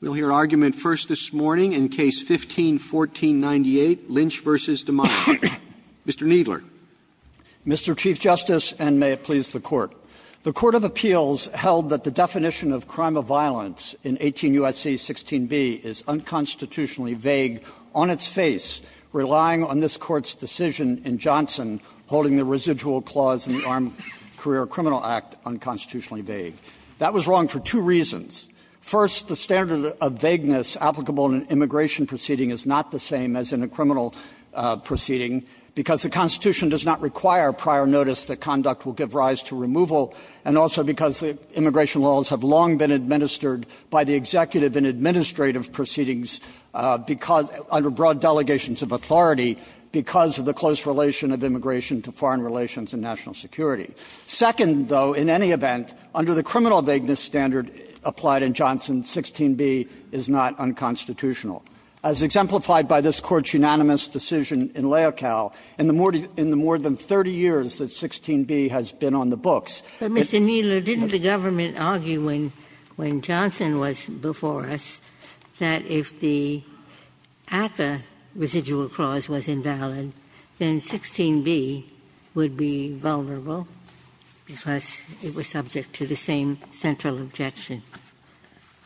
We'll hear argument first this morning in Case 15-1498, Lynch v. Dimaya. Mr. Kneedler. Kneedler, Mr. Chief Justice, and may it please the Court. The Court of Appeals held that the definition of crime of violence in 18 U.S.C. 16b is unconstitutionally vague on its face, relying on this Court's decision in Johnson holding the residual clause in the Armed Career Criminal Act unconstitutionally vague. That was wrong for two reasons. First, the standard of vagueness applicable in an immigration proceeding is not the same as in a criminal proceeding, because the Constitution does not require prior notice that conduct will give rise to removal, and also because the immigration laws have long been administered by the executive and administrative proceedings because under broad delegations of authority because of the close relation of immigration to foreign relations and national security. Second, though, in any event, under the criminal vagueness standard applied in Johnson, 16b is not unconstitutional. As exemplified by this Court's unanimous decision in Laocale, in the more than 30 years that 16b has been on the books. Ginsburg. But, Mr. Kneedler, didn't the government argue when Johnson was before us that if 16b at the residual clause was invalid, then 16b would be vulnerable because it was subject to the same central objection?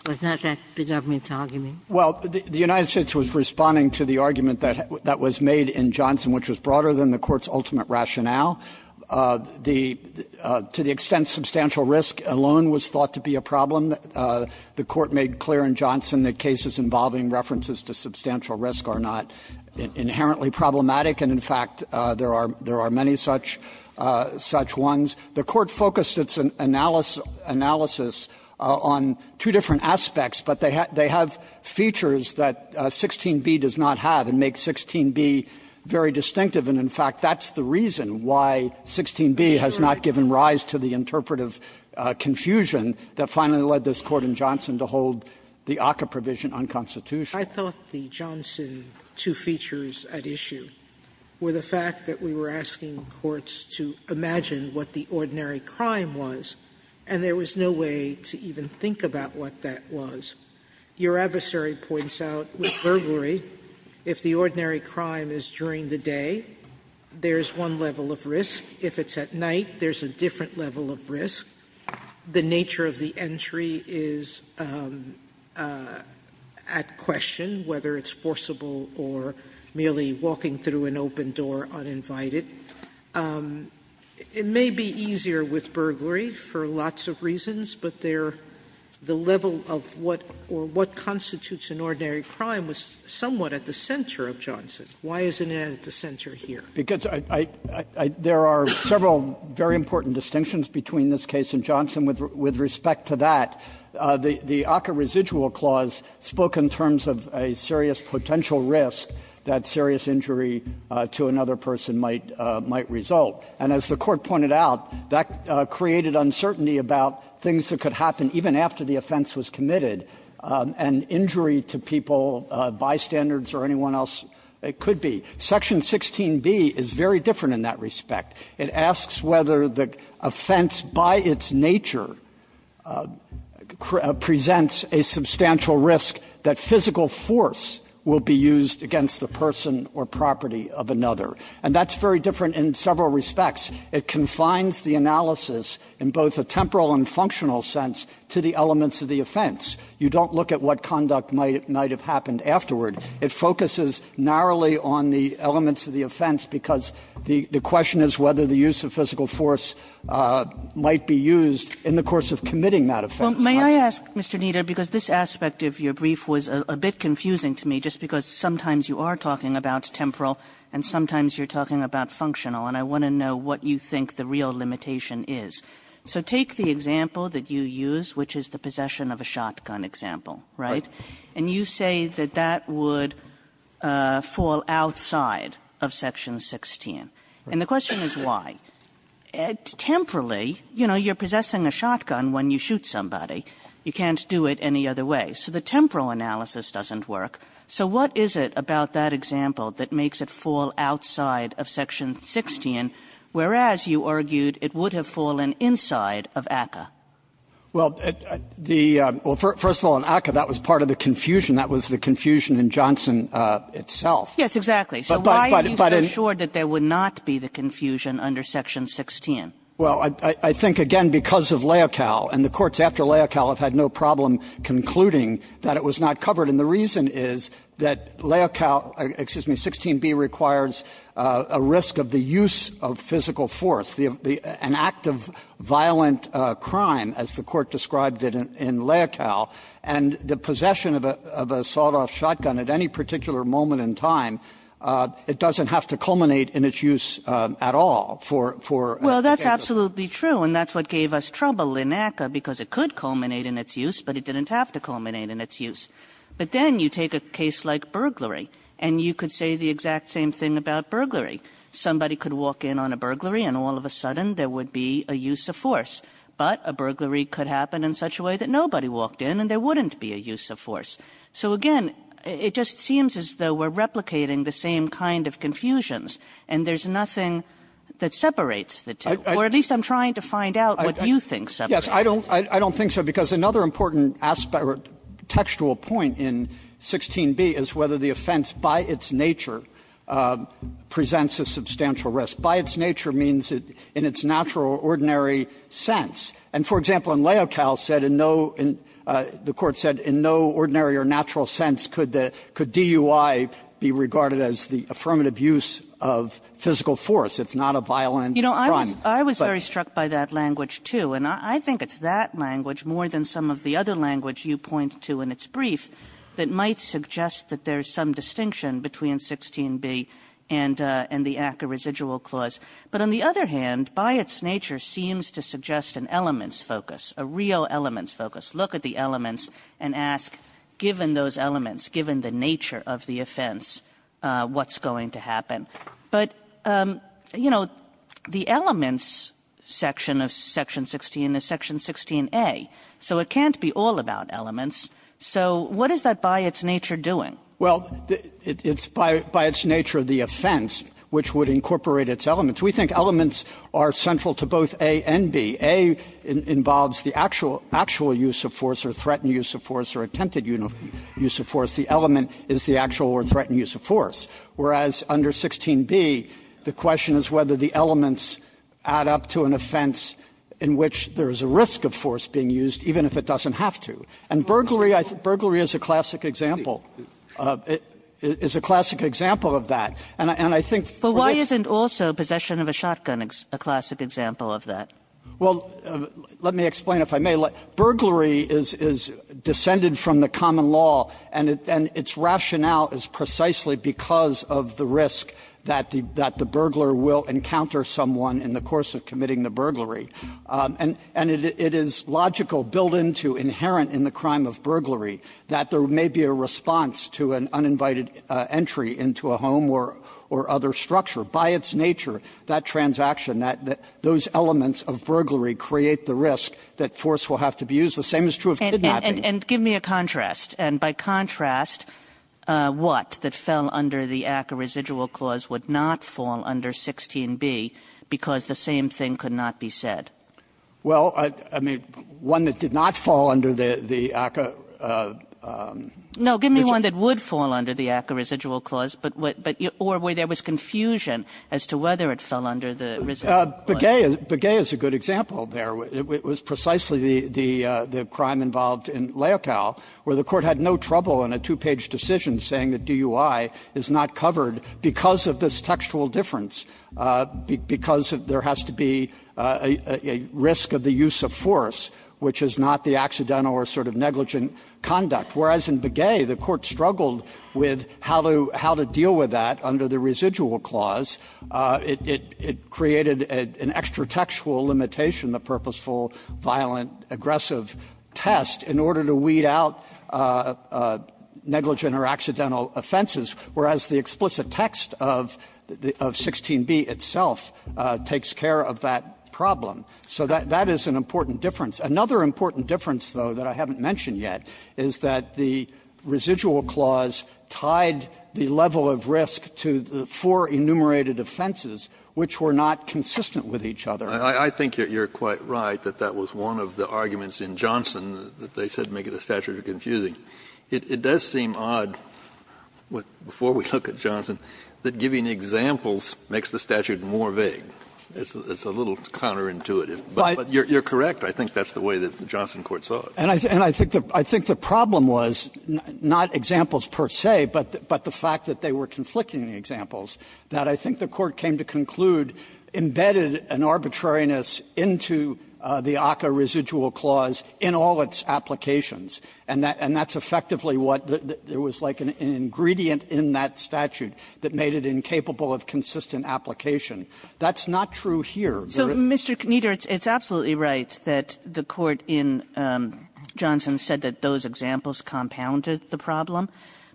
Was not that the government's argument? Kneedler, Well, the United States was responding to the argument that was made in Johnson, which was broader than the Court's ultimate rationale. The to the extent substantial risk alone was thought to be a problem, the Court made clear in Johnson that cases involving references to substantial risk are not inherently problematic, and, in fact, there are many such ones. The Court focused its analysis on two different aspects, but they have features that 16b does not have and make 16b very distinctive, and, in fact, that's the reason why 16b has not given rise to the interpretive confusion that finally led this Court in Johnson to hold the ACCA provision unconstitutional. Sotomayor, I thought the Johnson two features at issue were the fact that we were asking courts to imagine what the ordinary crime was, and there was no way to even think about what that was. Your adversary points out with burglary, if the ordinary crime is during the day, there is one level of risk. If it's at night, there is a different level of risk. The nature of the entry is at question, whether it's forcible or merely walking through an open door uninvited. It may be easier with burglary for lots of reasons, but there the level of what or what constitutes an ordinary crime was somewhat at the center of Johnson. Why isn't it at the center here? Kneedler, because I, I, I, there are several very important distinctions between this case and Johnson with respect to that. The ACCA residual clause spoke in terms of a serious potential risk that serious injury to another person might, might result. And as the Court pointed out, that created uncertainty about things that could happen even after the offense was committed, and injury to people, bystanders or anyone else, it could be. Section 16b is very different in that respect. It asks whether the offense by its nature presents a substantial risk that physical force will be used against the person or property of another. And that's very different in several respects. It confines the analysis in both a temporal and functional sense to the elements of the offense. You don't look at what conduct might, might have happened afterward. It focuses narrowly on the elements of the offense because the, the question is whether the use of physical force might be used in the course of committing that offense. Kagan. Kagan. May I ask, Mr. Kneedler, because this aspect of your brief was a, a bit confusing to me, just because sometimes you are talking about temporal and sometimes you're talking about functional, and I want to know what you think the real limitation is. So take the example that you use, which is the possession of a shotgun example, right? Right. And you say that that would fall outside of Section 16. And the question is why. Temporally, you know, you're possessing a shotgun when you shoot somebody. You can't do it any other way. So the temporal analysis doesn't work. So what is it about that example that makes it fall outside of Section 16, whereas you argued it would have fallen inside of ACCA? Well, the — well, first of all, in ACCA, that was part of the confusion. That was the confusion in Johnson itself. Yes, exactly. So why are you so sure that there would not be the confusion under Section 16? Well, I think, again, because of Leocal, and the courts after Leocal have had no problem concluding that it was not covered. And the reason is that Leocal — excuse me, 16b requires a risk of the use of physical force, the — an act of violent crime, as the Court described it in Leocal. And the possession of a sawed-off shotgun at any particular moment in time, it doesn't have to culminate in its use at all for — for a case of — Well, that's absolutely true. And that's what gave us trouble in ACCA, because it could culminate in its use, but it didn't have to culminate in its use. But then you take a case like burglary, and you could say the exact same thing about burglary. Somebody could walk in on a burglary, and all of a sudden there would be a use of force. But a burglary could happen in such a way that nobody walked in, and there wouldn't be a use of force. So, again, it just seems as though we're replicating the same kind of confusions, and there's nothing that separates the two. Or at least I'm trying to find out what you think separates them. Yes. I don't think so, because another important aspect or textual point in 16b is whether the offense, by its nature, presents a substantial risk. By its nature means in its natural or ordinary sense. And, for example, in Leocal, said in no — the Court said in no ordinary or natural sense could the — could DUI be regarded as the affirmative use of physical force. It's not a violent crime. You know, I was — I was very struck by that language, too. And I think it's that language, more than some of the other language you point to in its brief, that might suggest that there's some distinction between 16b and the ACCA residual clause. But on the other hand, by its nature, seems to suggest an elements focus, a real elements focus. Look at the elements and ask, given those elements, given the nature of the offense, what's going to happen? But, you know, the elements section of section 16 is section 16a. So it can't be all about elements. So what is that by its nature doing? Well, it's by its nature the offense, which would incorporate its elements. We think elements are central to both a and b. a involves the actual — actual use of force or threatened use of force or attempted use of force. The element is the actual or threatened use of force. Whereas under 16b, the question is whether the elements add up to an offense in which there is a risk of force being used, even if it doesn't have to. And burglary — burglary is a classic example. It is a classic example of that. And I think for the — But why isn't also possession of a shotgun a classic example of that? Well, let me explain, if I may. Burglary is — is descended from the common law, and its rationale is precisely because of the risk that the — that the burglar will encounter someone in the course of committing the burglary. And it is logical, built into, inherent in the crime of burglary, that there may be a response to an uninvited entry into a home or — or other structure. By its nature, that transaction, that — those elements of burglary create the risk that force will have to be used. The same is true of kidnapping. And give me a contrast. And by contrast, what, that fell under the ACCA residual clause would not fall under 16b, because the same thing could not be said. Well, I — I mean, one that did not fall under the — the ACCA — No. Give me one that would fall under the ACCA residual clause, but — but — or where there was confusion as to whether it fell under the residual clause. Begay is — Begay is a good example there. It was precisely the — the crime involved in Leocal, where the Court had no trouble in a two-page decision saying that DUI is not covered because of this textual difference, because there has to be a — a risk of the use of force, which is not the accidental or sort of negligent conduct, whereas in Begay, the Court struggled with how to — how to deal with that under the residual clause. It — it created an extra-textual limitation, the purposeful, violent, aggressive test, in order to weed out negligent or accidental offenses, whereas the explicit text of — of 16b itself takes care of that problem. So that — that is an important difference. Another important difference, though, that I haven't mentioned yet, is that the residual clause tied the level of risk to the four enumerated offenses, which were not consistent with each other. Kennedy, I think you're — you're quite right that that was one of the arguments in Johnson that they said make the statute confusing. It — it does seem odd, before we look at Johnson, that giving examples makes the statute more vague. It's a little counterintuitive. But you're correct. I think that's the way that the Johnson court saw it. And I think the — I think the problem was not examples per se, but the fact that they were conflicting examples, that I think the Court came to conclude embedded an arbitrariness into the ACCA residual clause in all its applications. And that — and that's effectively what the — there was, like, an ingredient in that statute that made it incapable of consistent application. That's not true here. Kagan. Kagan. Kagan. So, Mr. Kneeder, it's — it's absolutely right that the Court in Johnson said that those examples compounded the problem,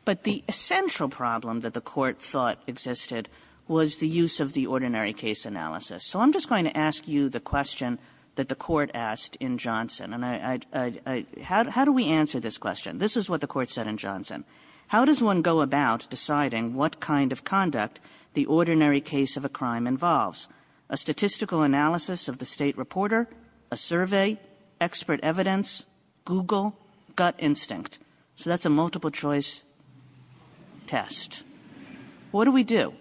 but the essential problem that the Court thought existed was the use of the ordinary case analysis. So I'm just going to ask you the question that the Court asked in Johnson, and I — I — how do we answer this question? This is what the Court said in Johnson. How does one go about deciding what kind of conduct the ordinary case of a crime involves? A statistical analysis of the state reporter? A survey? Expert evidence? Google? Gut instinct? So that's a multiple-choice test. What do we do?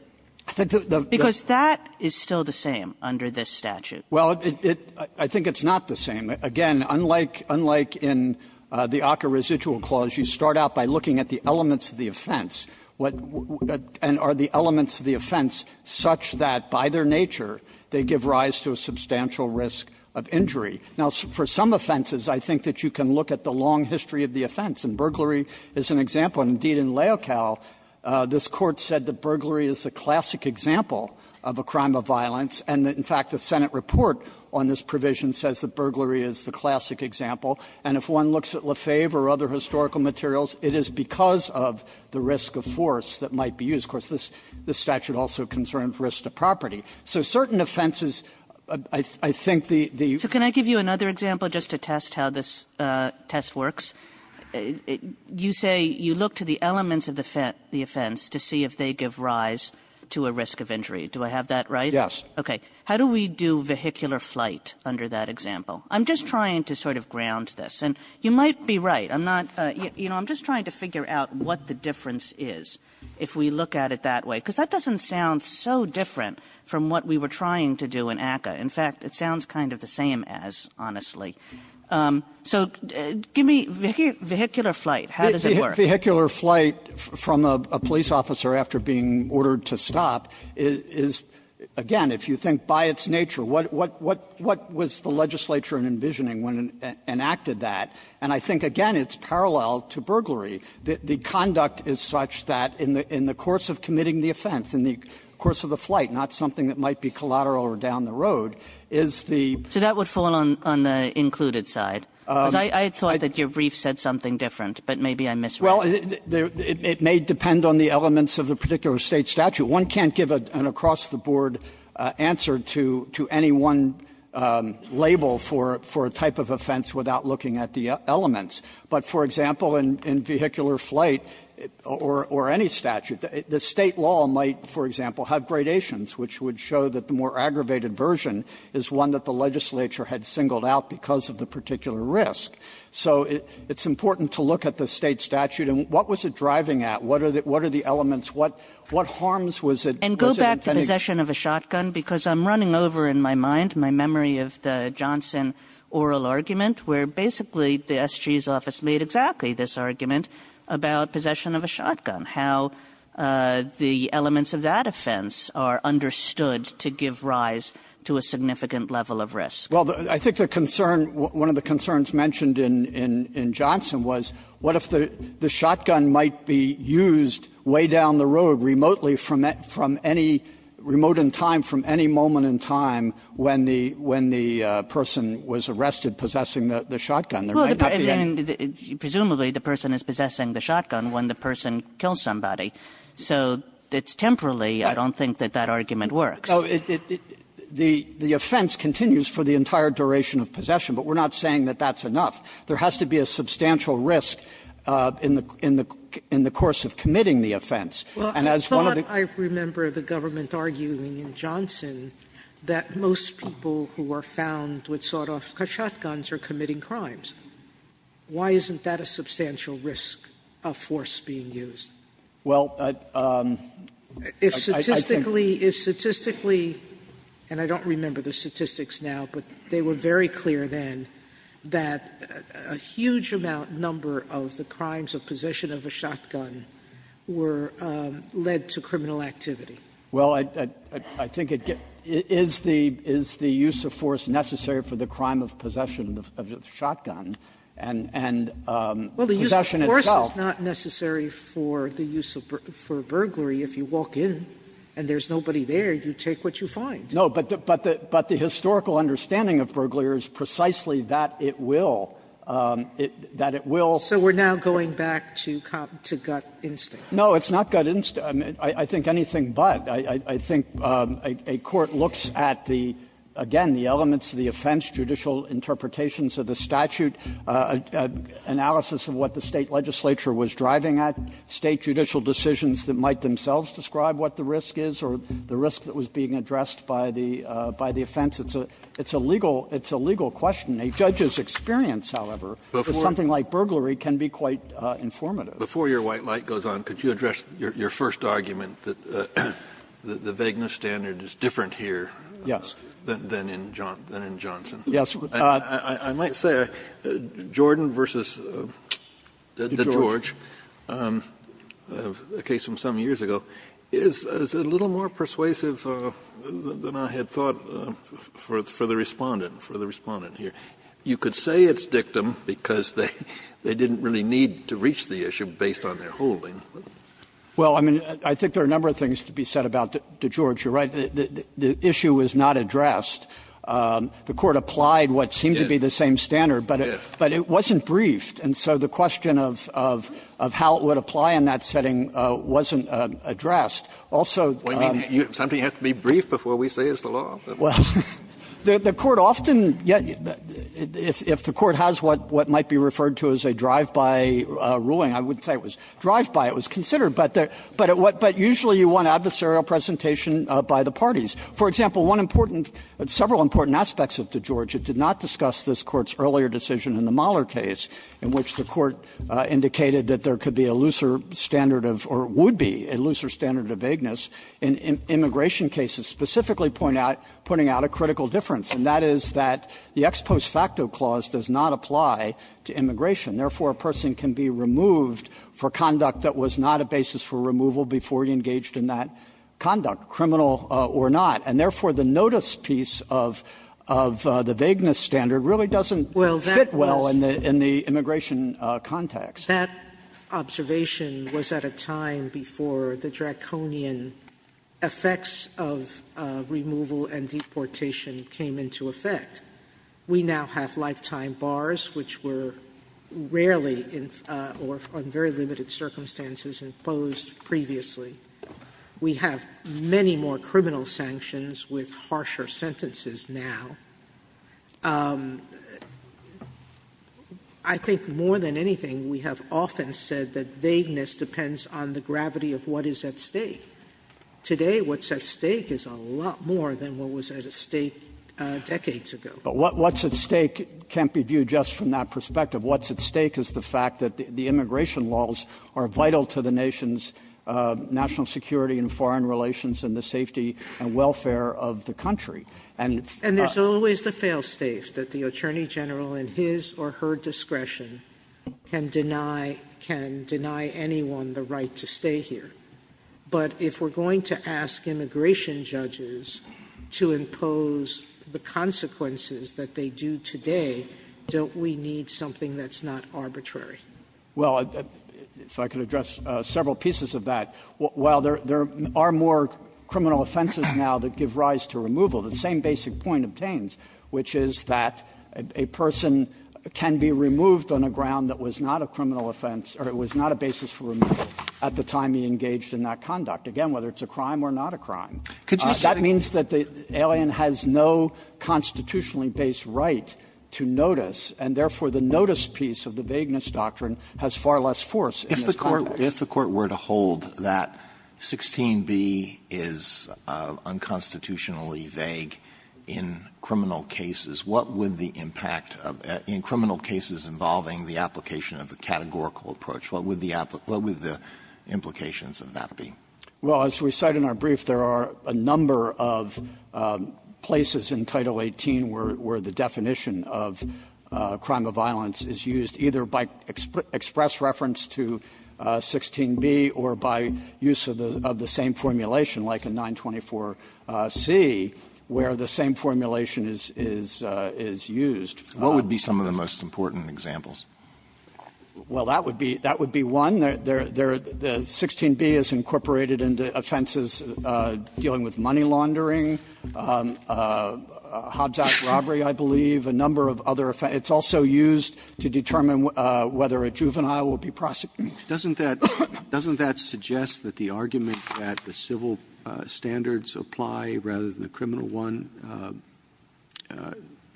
Because that is still the same under this statute. Well, it — I think it's not the same. Again, unlike — unlike in the ACCA residual clause, you start out by looking at the elements of the offense. And are the elements of the offense such that, by their nature, they give rise to a substantial risk of injury? Now, for some offenses, I think that you can look at the long history of the offense. And burglary is an example. And, indeed, in Leocal, this Court said that burglary is a classic example of a crime of violence, and that, in fact, the Senate report on this provision says that burglary is the classic example. And if one looks at Lefebvre or other historical materials, it is because of the risk of force that might be used. Of course, this statute also concerned risk to property. So certain offenses, I think the — Kagan. So can I give you another example just to test how this test works? You say you look to the elements of the offense to see if they give rise to a risk of injury. Do I have that right? Yes. Okay. How do we do vehicular flight under that example? I'm just trying to sort of ground this. And you might be right. I'm not — you know, I'm just trying to figure out what the difference is if we look at it that way, because that doesn't sound so different from what we were trying to do in ACCA. In fact, it sounds kind of the same as, honestly. So give me vehicular flight. How does it work? So vehicular flight from a police officer after being ordered to stop is, again, if you think by its nature, what was the legislature envisioning when it enacted that? And I think, again, it's parallel to burglary. The conduct is such that in the course of committing the offense, in the course of the flight, not something that might be collateral or down the road, is the — So that would fall on the included side? Well, it may depend on the elements of the particular State statute. One can't give an across-the-board answer to any one label for a type of offense without looking at the elements. But, for example, in vehicular flight or any statute, the State law might, for example, have gradations, which would show that the more aggravated version is one that the legislature had singled out because of the particular risk. So it's important to look at the State statute. And what was it driving at? What are the elements? What harms was it — And go back to possession of a shotgun, because I'm running over in my mind my memory of the Johnson oral argument, where basically the S.G.'s office made exactly this argument about possession of a shotgun, how the elements of that offense are understood to give rise to a significant level of risk. Well, I think the concern — one of the concerns mentioned in Johnson was what if the shotgun might be used way down the road remotely from any — remote in time from any moment in time when the person was arrested possessing the shotgun? There might not be any — Well, presumably, the person is possessing the shotgun when the person kills somebody. So it's temporally. I don't think that that argument works. No, it — the offense continues for the entire duration of possession, but we're not saying that that's enough. There has to be a substantial risk in the course of committing the offense. And as one of the — Well, I thought I remember the government arguing in Johnson that most people who are found with sawed-off shotguns are committing crimes. Why isn't that a substantial risk of force being used? Well, I think — If statistically — if statistically — and I don't remember the statistics now, but they were very clear then that a huge amount, number of the crimes of possession of a shotgun were led to criminal activity. Well, I think it — is the — is the use of force necessary for the crime of possession of a shotgun and — and possession itself? It's not necessary for the use of — for burglary. If you walk in and there's nobody there, you take what you find. No, but the — but the historical understanding of burglary is precisely that it will — that it will — So we're now going back to cop — to gut instinct. No, it's not gut instinct. I think anything but. I think a court looks at the — again, the elements of the offense, judicial interpretations of the statute, analysis of what the State legislature was driving at, State judicial decisions that might themselves describe what the risk is or the risk that was being addressed by the — by the offense. It's a legal — it's a legal question. A judge's experience, however, with something like burglary can be quite informative. Before your white light goes on, could you address your first argument that the vagueness standard is different here than in Johnson? Yes. I might say, Jordan v. DeGeorge, a case from some years ago, is a little more persuasive than I had thought for the Respondent, for the Respondent here. You could say it's dictum because they didn't really need to reach the issue based on their holding. Well, I mean, I think there are a number of things to be said about DeGeorge. You're right. The issue is not addressed. The Court applied what seemed to be the same standard, but it wasn't briefed. And so the question of how it would apply in that setting wasn't addressed. Also the Court often — if the Court has what might be referred to as a drive-by ruling, I would say it was drive-by. It was considered. But usually you want adversarial presentation by the parties. For example, one important — several important aspects of DeGeorge, it did not discuss this Court's earlier decision in the Mahler case, in which the Court indicated that there could be a looser standard of — or would be a looser standard of vagueness in immigration cases, specifically pointing out a critical difference, and that is that the ex post facto clause does not apply to immigration. Therefore, a person can be removed for conduct that was not a basis for removal before he engaged in that conduct, criminal or not. And therefore, the notice piece of the vagueness standard really doesn't fit well Sotomayor, that observation was at a time before the draconian effects of removal and deportation came into effect. We now have lifetime bars, which were rarely, or in very limited circumstances, imposed previously. We have many more criminal sanctions with harsher sentences now. I think more than anything, we have often said that vagueness depends on the gravity of what is at stake. Today, what's at stake is a lot more than what was at stake decades ago. But what's at stake can't be viewed just from that perspective. What's at stake is the fact that the immigration laws are vital to the nation's national security and foreign relations and the safety and welfare of the country. And there's always the fail-safe that the Attorney General, in his or her discretion, can deny anyone the right to stay here. But if we're going to ask immigration judges to impose the consequences that they do today, don't we need something that's not arbitrary? Kneedler, Well, if I could address several pieces of that. While there are more criminal offenses now that give rise to removal, the same basic point obtains, which is that a person can be removed on a ground that was not a criminal offense or it was not a basis for removal at the time he engaged in that conduct, that means that the alien has no constitutionally-based right to notice, and therefore, the notice piece of the Vagueness Doctrine has far less force in this context. Alito If the Court were to hold that 16b is unconstitutionally vague in criminal cases, what would the impact of the 16b in criminal cases involving the application of the categorical approach, what would the implications of that be? Kneedler, Well, as we cite in our brief, there are a number of places in Title 18 where the definition of crime of violence is used, either by express reference to 16b or by use of the same formulation, like in 924C, where the same formulation is used. Alito What would be some of the most important examples? Kneedler, Well, that would be one. The 16b is incorporated into offenses dealing with money laundering, Hobbs Act robbery, I believe, a number of other offenses. It's also used to determine whether a juvenile will be prosecuted. Roberts Doesn't that suggest that the argument that the civil standards apply rather than the criminal one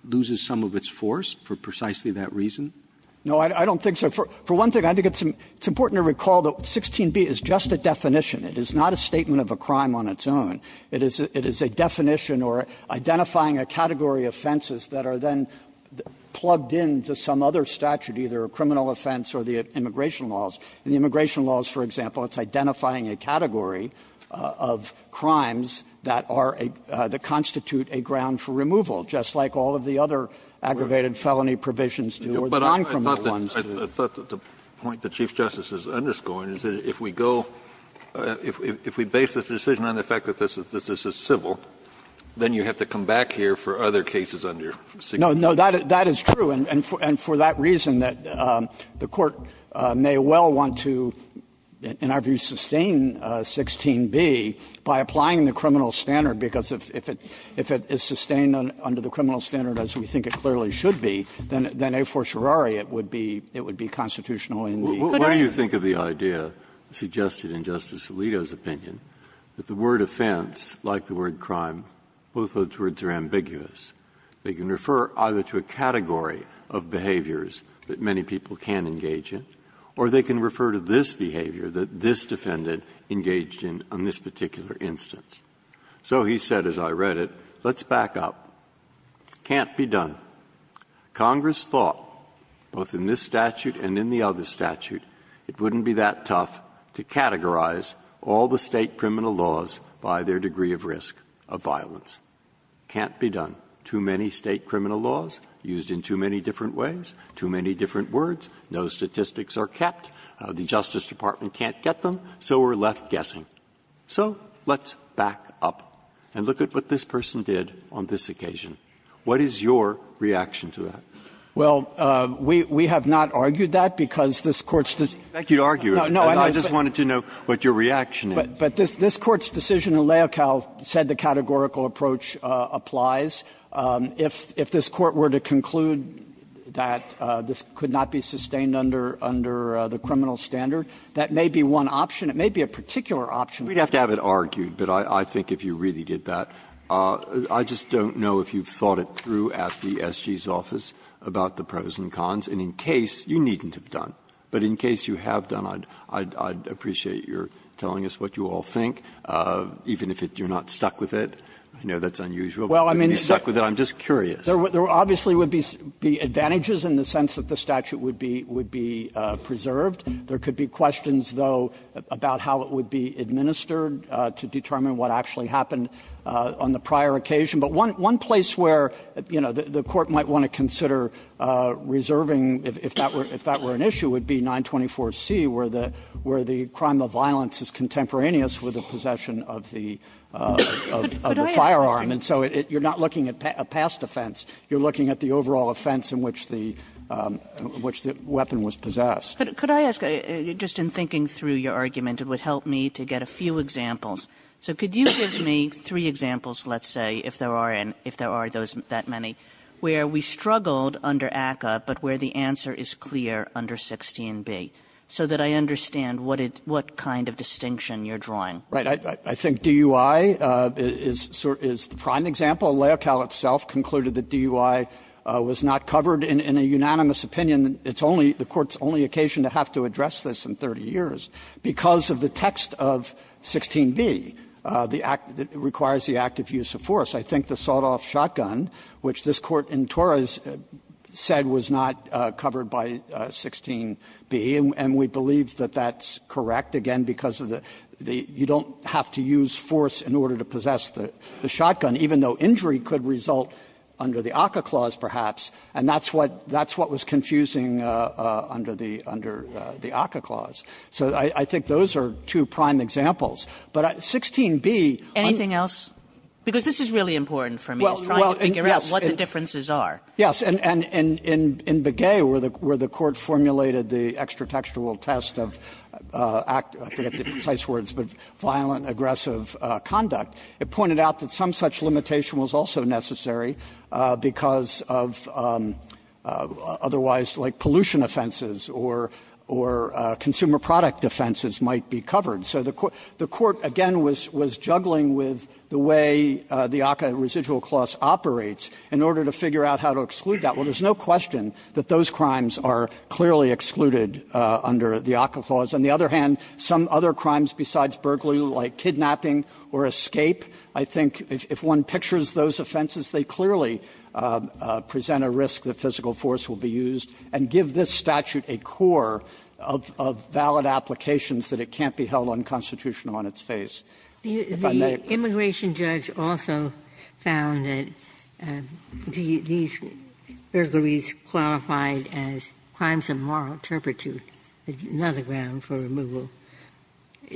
loses some of its force for precisely that reason? Kneedler, No. I don't think so. For one thing, I think it's important to recall that 16b is just a definition. It is not a statement of a crime on its own. It is a definition or identifying a category of offenses that are then plugged in to some other statute, either a criminal offense or the immigration laws. In the immigration laws, for example, it's identifying a category of crimes that are a – that constitute a ground for removal, just like all of the other aggravated felony provisions do or the non-criminal ones do. Kennedy I thought that the point that Chief Justice is underscoring is that if we go – if we base this decision on the fact that this is civil, then you have to come back here for other cases under 16b. Kneedler, No. That is true, and for that reason, that the Court may well want to, in our view, sustain 16b by applying the criminal standard, because if it – if it is sustained under the criminal standard as we think it clearly should be, then a fortiorari it would be – it would be constitutional in the good area. Breyer What do you think of the idea suggested in Justice Alito's opinion that the word offense, like the word crime, both of those words are ambiguous? They can refer either to a category of behaviors that many people can engage in, or they can refer to this behavior that this defendant engaged in on this particular instance. So he said, as I read it, let's back up. Can't be done. Congress thought, both in this statute and in the other statute, it wouldn't be that tough to categorize all the State criminal laws by their degree of risk of violence. Can't be done. Too many State criminal laws used in too many different ways, too many different words. No statistics are kept. The Justice Department can't get them, so we're left guessing. So let's back up and look at what this person did on this occasion. What is your reaction to that? Kneedler Well, we have not argued that, because this Court's decision – Breyer I didn't expect you to argue it. I just wanted to know what your reaction is. Kneedler But this Court's decision in Leocal said the categorical approach applies. If this Court were to conclude that this could not be sustained under the criminal standard, that may be one option. It may be a particular option. Breyer We'd have to have it argued, but I think if you really did that. I just don't know if you've thought it through at the SG's office about the pros and cons. And in case – you needn't have done, but in case you have done, I'd appreciate your telling us what you all think, even if you're not stuck with it. I know that's unusual, but you're stuck with it. I'm just curious. Kneedler There obviously would be advantages in the sense that the statute would be preserved. There could be questions, though, about how it would be administered to determine what actually happened on the prior occasion. But one place where, you know, the Court might want to consider reserving, if that were an issue, would be 924C, where the crime of violence is contemporaneous with the possession of the firearm. And so you're not looking at a past offense. You're looking at the overall offense in which the weapon was possessed. Kagan Could I ask, just in thinking through your argument, it would help me to get a few examples. So could you give me three examples, let's say, if there are any, if there are that many, where we struggled under ACCA, but where the answer is clear under 16b, so that I understand what it – what kind of distinction you're drawing. Kneedler Right. I think DUI is the prime example. LAOCAL itself concluded that DUI was not covered in a unanimous opinion. It's only – the Court's only occasion to have to address this in 30 years because of the text of 16b, the act that requires the act of use of force. I think the sawed-off shotgun, which this Court in Torres said was not covered by 16b, and we believe that that's correct, again, because of the – you don't have to use force in order to possess the shotgun, even though injury could result under the ACCA clause, perhaps, and that's what was confusing under the ACCA clause. So I think those are two prime examples. But 16b – Kagan Anything else? Because this is really important for me, is trying to figure out what the differences are. Kneedler Yes. And in Begay, where the Court formulated the extra-textual test of – I forget the precise words, but violent, aggressive conduct, it pointed out that some such limitation was also necessary because of otherwise, like, pollution offenses or consumer product offenses might be covered. So the Court, again, was juggling with the way the ACCA residual clause operates in order to figure out how to exclude that. Well, there's no question that those crimes are clearly excluded under the ACCA clause. On the other hand, some other crimes besides burglary, like kidnapping or escape, I think if one pictures those offenses, they clearly present a risk that physical force will be used and give this statute a core of valid applications that it can't be held unconstitutional on its face. If I may – Ginsburg The immigration judge also found that these burglaries qualified as crimes of moral turpitude, another ground for removal.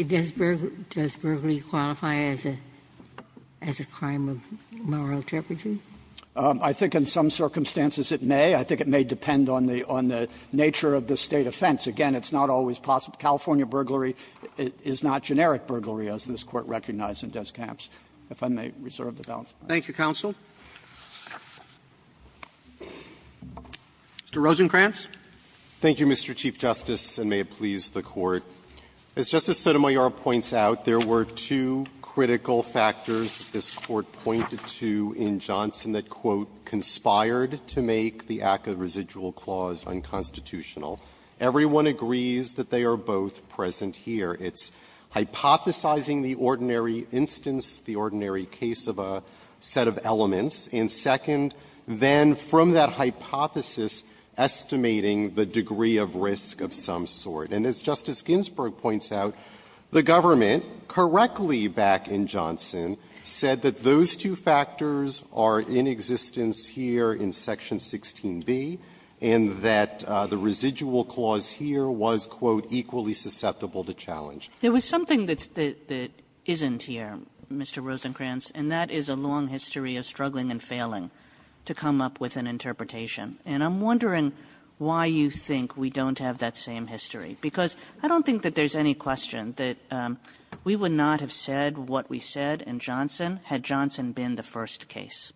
Does burglary qualify as a crime of moral turpitude? Kneedler I think in some circumstances it may. I think it may depend on the nature of the State offense. Again, it's not always possible. California burglary is not generic burglary, as this Court recognized in Des Camps. If I may reserve the balance of my time. Roberts Thank you, counsel. Mr. Rosenkranz. Rosenkranz Thank you, Mr. Chief Justice, and may it please the Court. As Justice Sotomayor points out, there were two critical factors this Court pointed to in Johnson that, quote, "'conspired' to make the ACCA residual clause unconstitutional. Everyone agrees that they are both present here. It's hypothesizing the ordinary instance, the ordinary case of a set of elements, and second, then from that hypothesis, estimating the degree of risk of some sort. And as Justice Ginsburg points out, the government, correctly back in Johnson, said that those two factors are in existence here in Section 16b, and that the residual clause here was, quote, "'equally susceptible to challenge.'" Kagan There was something that's the – that isn't here, Mr. Rosenkranz, and that is a long history of struggling and failing to come up with an interpretation. And I'm wondering why you think we don't have that same history, because I don't think that there's any question that we would not have said what we said in Johnson had Johnson been the first case.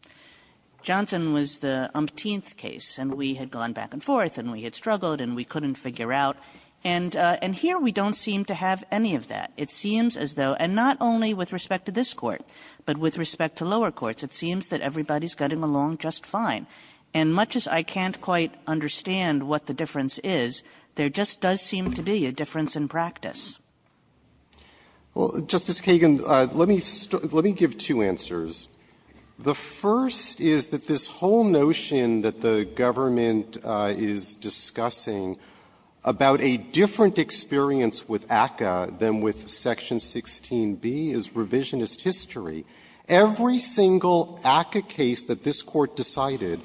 Johnson was the umpteenth case, and we had gone back and forth, and we had struggled, and we couldn't figure out. And here we don't seem to have any of that. It seems as though – and not only with respect to this Court, but with respect to lower courts – it seems that everybody's getting along just fine. And much as I can't quite understand what the difference is, there just does seem to be a difference in practice. Rosenkranz Well, Justice Kagan, let me – let me give two answers. The first is that this whole notion that the government is discussing about a different experience with ACCA than with Section 16b is revisionist history. Every single ACCA case that this Court decided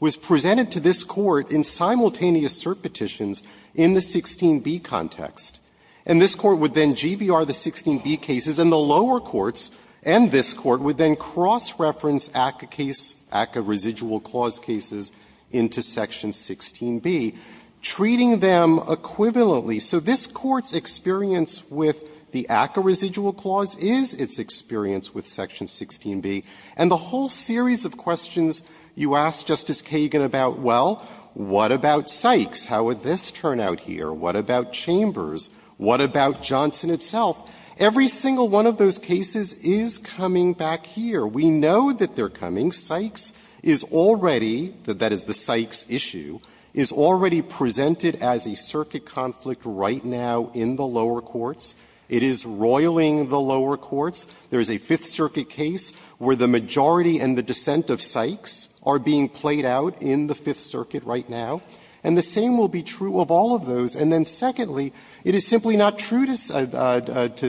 was presented to this Court in simultaneous assert petitions in the 16b context. And this Court would then GVR the 16b cases, and the lower courts and this Court would then cross-reference ACCA case – ACCA residual clause cases into Section 16b, treating them equivalently. So this Court's experience with the ACCA residual clause is its experience with Section 16b. And the whole series of questions you asked, Justice Kagan, about, well, what about Sykes? How would this turn out here? What about Chambers? What about Johnson itself? Every single one of those cases is coming back here. We know that they're coming. Sykes is already – that is, the Sykes issue – is already presented as a circuit conflict right now in the lower courts. It is roiling the lower courts. There is a Fifth Circuit case where the majority and the dissent of Sykes are being played out in the Fifth Circuit right now. And the same will be true of all of those. And then, secondly, it is simply not true to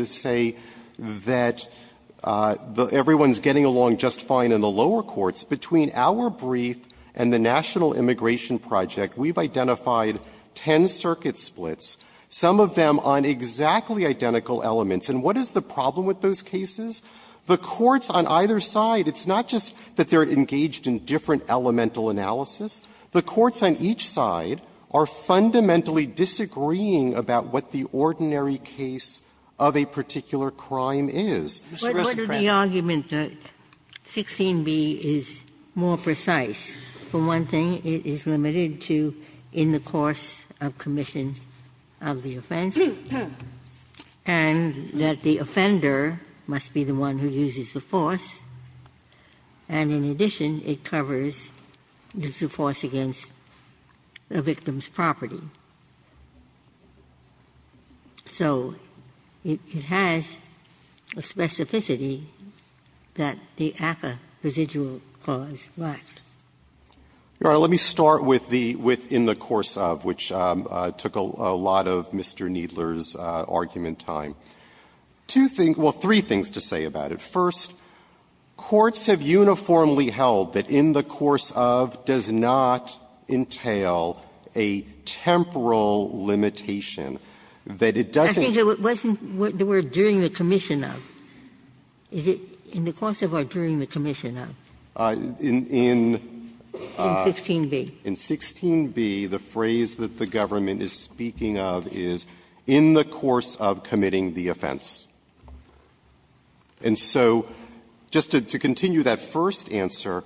say that everyone's getting along just fine in the lower courts. Between our brief and the National Immigration Project, we've identified ten circuit splits, some of them on exactly identical elements. And what is the problem with those cases? The courts on either side, it's not just that they're engaged in different elemental analysis. The courts on each side are fundamentally disagreeing about what the ordinary case of a particular crime is. It's just a question. Ginsburg, what is the argument that 16b is more precise? For one thing, it is limited to in the course of commission of the offense, and that the offender must be the one who uses the force, and in addition, it covers the default of the force against the victim's property. So it has a specificity that the ACCA residual clause lacked. Rosenkranz. Let me start with the within the course of, which took a lot of Mr. Needler's argument time. Two things or three things to say about it. First, courts have uniformly held that in the course of does not entail a temporal limitation, that it doesn't. Ginsburg. I think it wasn't the word during the commission of. Is it in the course of or during the commission of? Rosenkranz. In 16b. In 16b, the phrase that the government is speaking of is in the course of committing the offense. And so just to continue that first answer,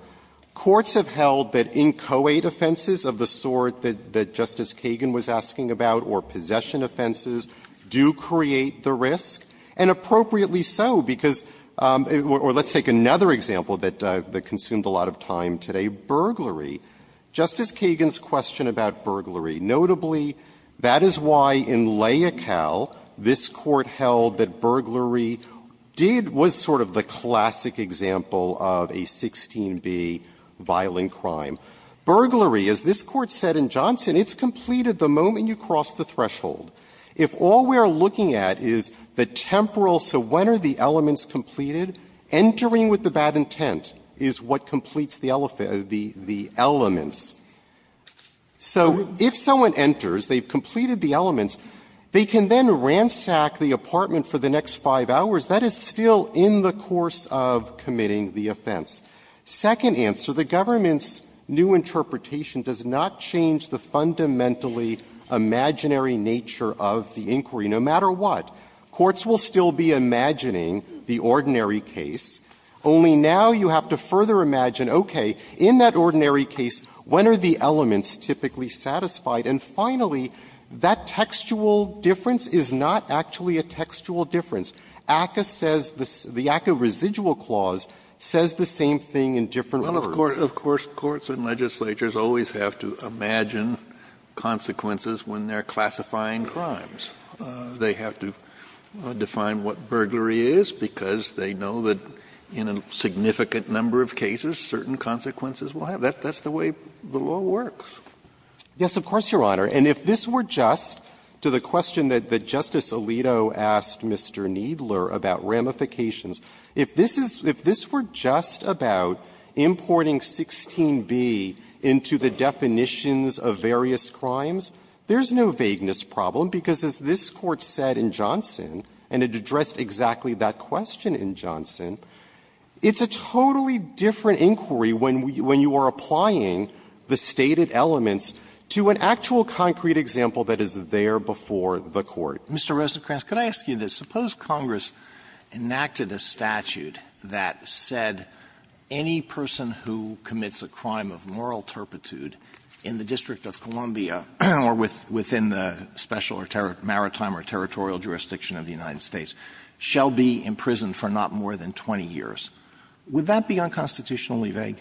courts have held that inchoate offenses of the sort that Justice Kagan was asking about or possession offenses do create the risk, and appropriately so, because or let's take another example that consumed a lot of time today, burglary. Justice Kagan's question about burglary, notably, that is why in Layakal, this court held that burglary did was sort of the classic example of a 16b violent crime. Burglary, as this Court said in Johnson, it's completed the moment you cross the threshold. If all we are looking at is the temporal, so when are the elements completed, entering with the bad intent is what completes the elements. So if someone enters, they've completed the elements, they can then ransack the appellate department for the next 5 hours. That is still in the course of committing the offense. Second answer, the government's new interpretation does not change the fundamentally imaginary nature of the inquiry, no matter what. Courts will still be imagining the ordinary case, only now you have to further imagine, okay, in that ordinary case, when are the elements typically satisfied? And finally, that textual difference is not actually a textual difference. ACCA says the ACCA residual clause says the same thing in different words. Kennedy, of course, courts and legislatures always have to imagine consequences when they are classifying crimes. They have to define what burglary is because they know that in a significant number of cases, certain consequences will have. That's the way the law works. Yes, of course, Your Honor. And if this were just to the question that Justice Alito asked Mr. Kneedler about ramifications, if this were just about importing 16b into the definitions of various crimes, there's no vagueness problem, because as this Court said in Johnson, and it addressed exactly that question in Johnson, it's a totally different inquiry when you are applying the stated elements to an actual concrete example that is there before the Court. Alito, Mr. Rosenkranz, could I ask you this? Suppose Congress enacted a statute that said any person who commits a crime of moral turpitude in the District of Columbia or within the special or maritime or territorial jurisdiction of the United States shall be imprisoned for not more than 20 years. Would that be unconstitutionally vague?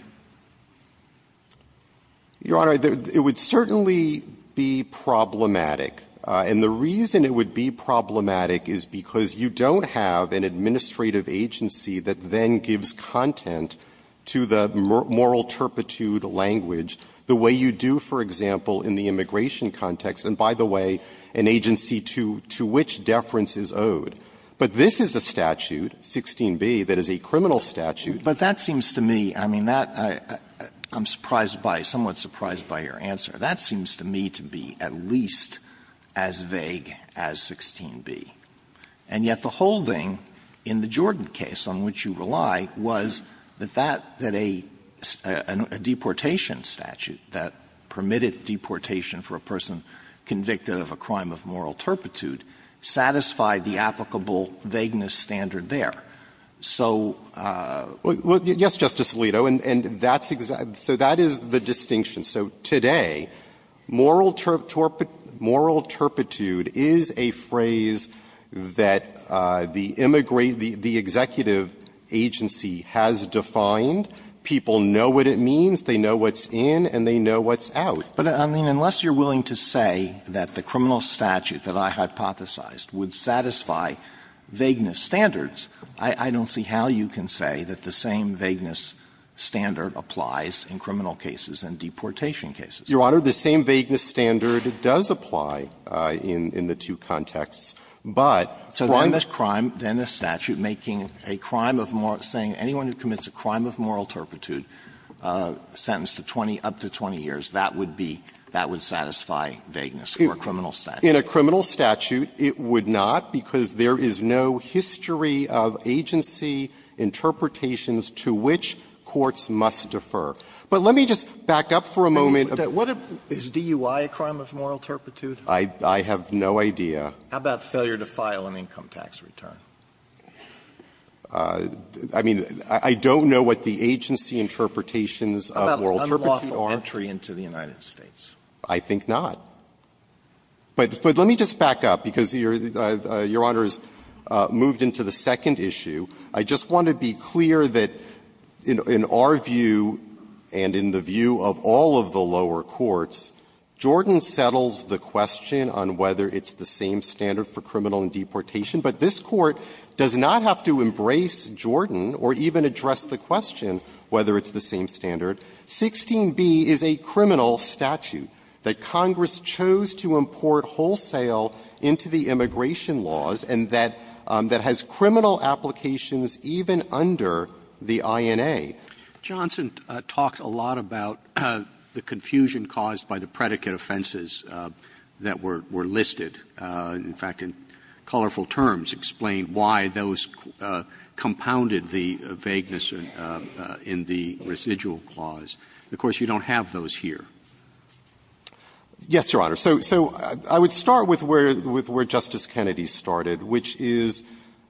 Rosenkranz, Your Honor, it would certainly be problematic. And the reason it would be problematic is because you don't have an administrative agency that then gives content to the moral turpitude language the way you do, for example, in the immigration context, and by the way, an agency to which deference is owed. But this is a statute, 16b, that is a criminal statute. Alito, Mr. Rosenkranz, but that seems to me, I mean, that I'm surprised by, somewhat surprised by your answer, that seems to me to be at least as vague as 16b. And yet the whole thing in the Jordan case on which you rely was that that a deportation statute that permitted deportation for a person convicted of a crime of moral turpitude satisfied the applicable vagueness standard there. So the question is, is that a moral turpitude? Rosenkranz, Your Honor, I think that's a moral turpitude. Yes, Justice Alito, and that's exactly the distinction. So today, moral turpitude is a phrase that the executive agency has defined. People know what it means. They know what's in and they know what's out. But, I mean, unless you're willing to say that the criminal statute that I hypothesized would satisfy vagueness standards, I don't see how you can say that the same vagueness standard applies in criminal cases and deportation cases. Your Honor, the same vagueness standard does apply in the two contexts, but one. So then the crime, then the statute making a crime of moral – saying anyone who commits a crime of moral turpitude sentenced to 20, up to 20 years, that would be – that would satisfy vagueness for a criminal statute. Rosenkranz, In a criminal statute, it would not because there is no history of agency interpretations to which courts must defer. But let me just back up for a moment. Alito, is DUI a crime of moral turpitude? Rosenkranz, I have no idea. Alito, How about failure to file an income tax return? Rosenkranz, I mean, I don't know what the agency interpretations of moral turpitude are. Alito, How about unlawful entry into the United States? Rosenkranz, I think not. But let me just back up, because Your Honor has moved into the second issue. I just want to be clear that in our view and in the view of all of the lower courts, Jordan settles the question on whether it's the same standard for criminal and deportation. But this Court does not have to embrace Jordan or even address the question whether it's the same standard. 16b is a criminal statute that Congress chose to import wholesale into the immigration laws and that has criminal applications even under the INA. Roberts, Johnson talked a lot about the confusion caused by the predicate offenses that were listed. In fact, in colorful terms, explained why those compounded the vagueness in the residual clause. Of course, you don't have those here. Rosenkranz, Yes, Your Honor. So I would start with where Justice Kennedy started, which is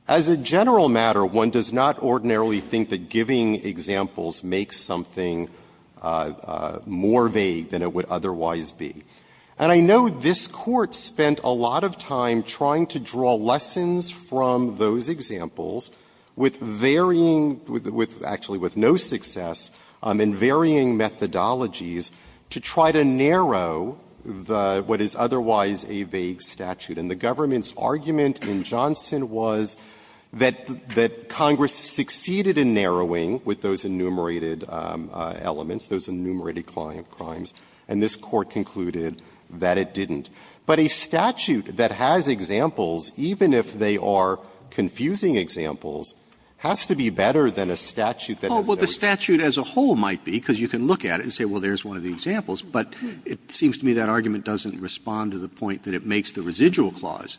as a general matter, one does not ordinarily think that giving examples makes something more vague than it would otherwise be. And I know this Court spent a lot of time trying to draw lessons from those examples with varying, actually with no success, in varying methodologies to try to narrow what is otherwise a vague statute. And the government's argument in Johnson was that Congress succeeded in narrowing with those enumerated elements, those enumerated crimes, and this Court concluded that it didn't. But a statute that has examples, even if they are confusing examples, has to be better than a statute that has no examples. Roberts, Well, the statute as a whole might be, because you can look at it and say, well, there's one of the examples. But it seems to me that argument doesn't respond to the point that it makes the residual clause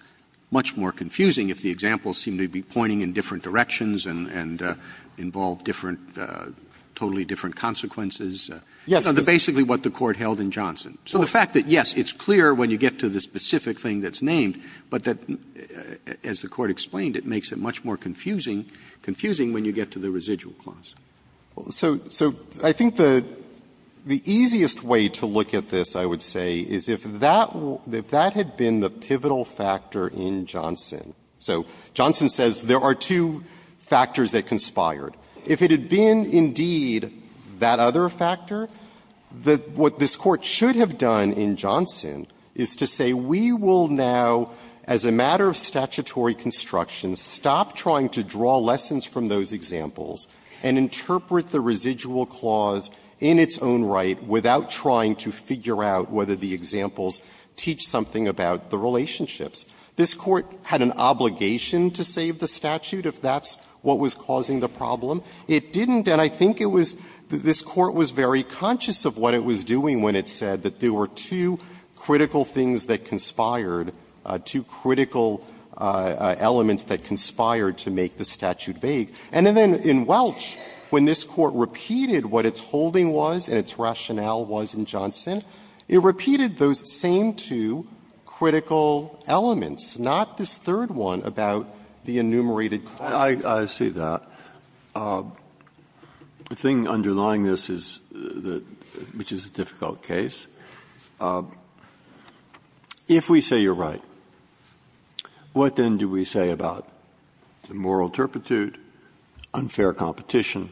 much more confusing if the examples seem to be pointing in different directions and involve different, totally different consequences. Rosenkranz, Yes. Roberts, So that's basically what the Court held in Johnson. So the fact that, yes, it's clear when you get to the specific thing that's named, but that, as the Court explained, it makes it much more confusing, confusing when you get to the residual clause. Rosenkranz, So I think the easiest way to look at this, I would say, is if that had been the pivotal factor in Johnson. So Johnson says there are two factors that conspired. If it had been, indeed, that other factor, what this Court should have done in Johnson is to say we will now, as a matter of statutory construction, stop trying to draw lessons from those examples and interpret the residual clause in its own right without trying to figure out whether the examples teach something about the relationships. This Court had an obligation to save the statute if that's what was causing the problem. It didn't, and I think it was this Court was very conscious of what it was doing when it said that there were two critical things that conspired, two critical elements that conspired to make the statute vague. And then in Welch, when this Court repeated what its holding was and its rationale was in Johnson, it repeated those same two critical elements, not this third one about the enumerated classes. Breyer, I see that. The thing underlying this is, which is a difficult case, if we say you're right, what then do we say about the moral turpitude, unfair competition,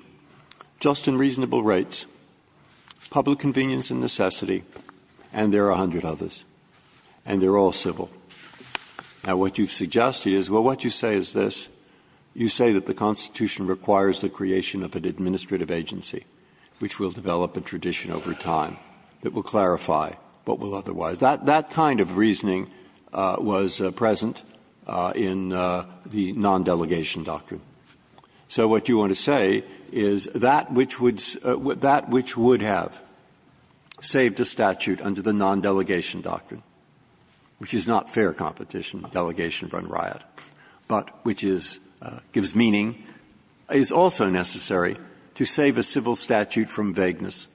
just and reasonable rates, public convenience and necessity, and there are a hundred others, and they're all civil. Now, what you've suggested is, well, what you say is this. You say that the Constitution requires the creation of an administrative agency which will develop a tradition over time that will clarify what will otherwise do. That kind of reasoning was present in the non-delegation doctrine. So what you want to say is that which would have saved a statute under the non-delegation doctrine, which is not fair competition, delegation run riot, but which is gives meaning, is also necessary to save a civil statute from vagueness.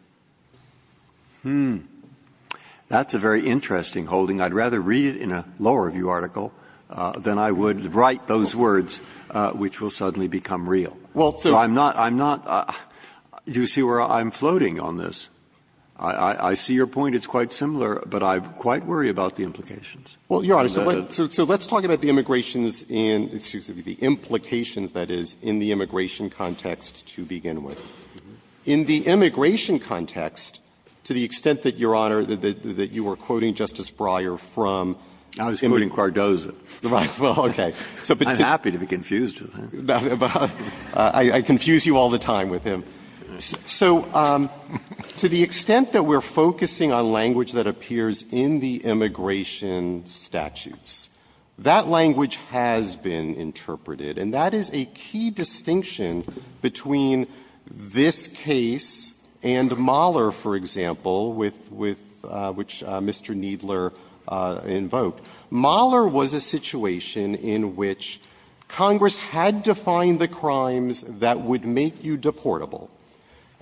Hmm. That's a very interesting holding. I'd rather read it in a lower review article than I would write those words which will suddenly become real. So I'm not, I'm not, do you see where I'm floating on this? I see your point, it's quite similar, but I quite worry about the implications. Well, Your Honor, so let's talk about the immigrations in, excuse me, the implications, that is, in the immigration context to begin with. In the immigration context, to the extent that, Your Honor, that you were quoting Justice Breyer from, I was quoting Cardozo. Right, well, okay. I'm happy to be confused with that. I confuse you all the time with him. So to the extent that we're focusing on language that appears in the immigration statutes, that language has been interpreted, and that is a key distinction between this case and Mahler, for example, with which Mr. Needler invoked. Mahler was a situation in which Congress had to find the crimes that would make you deportable,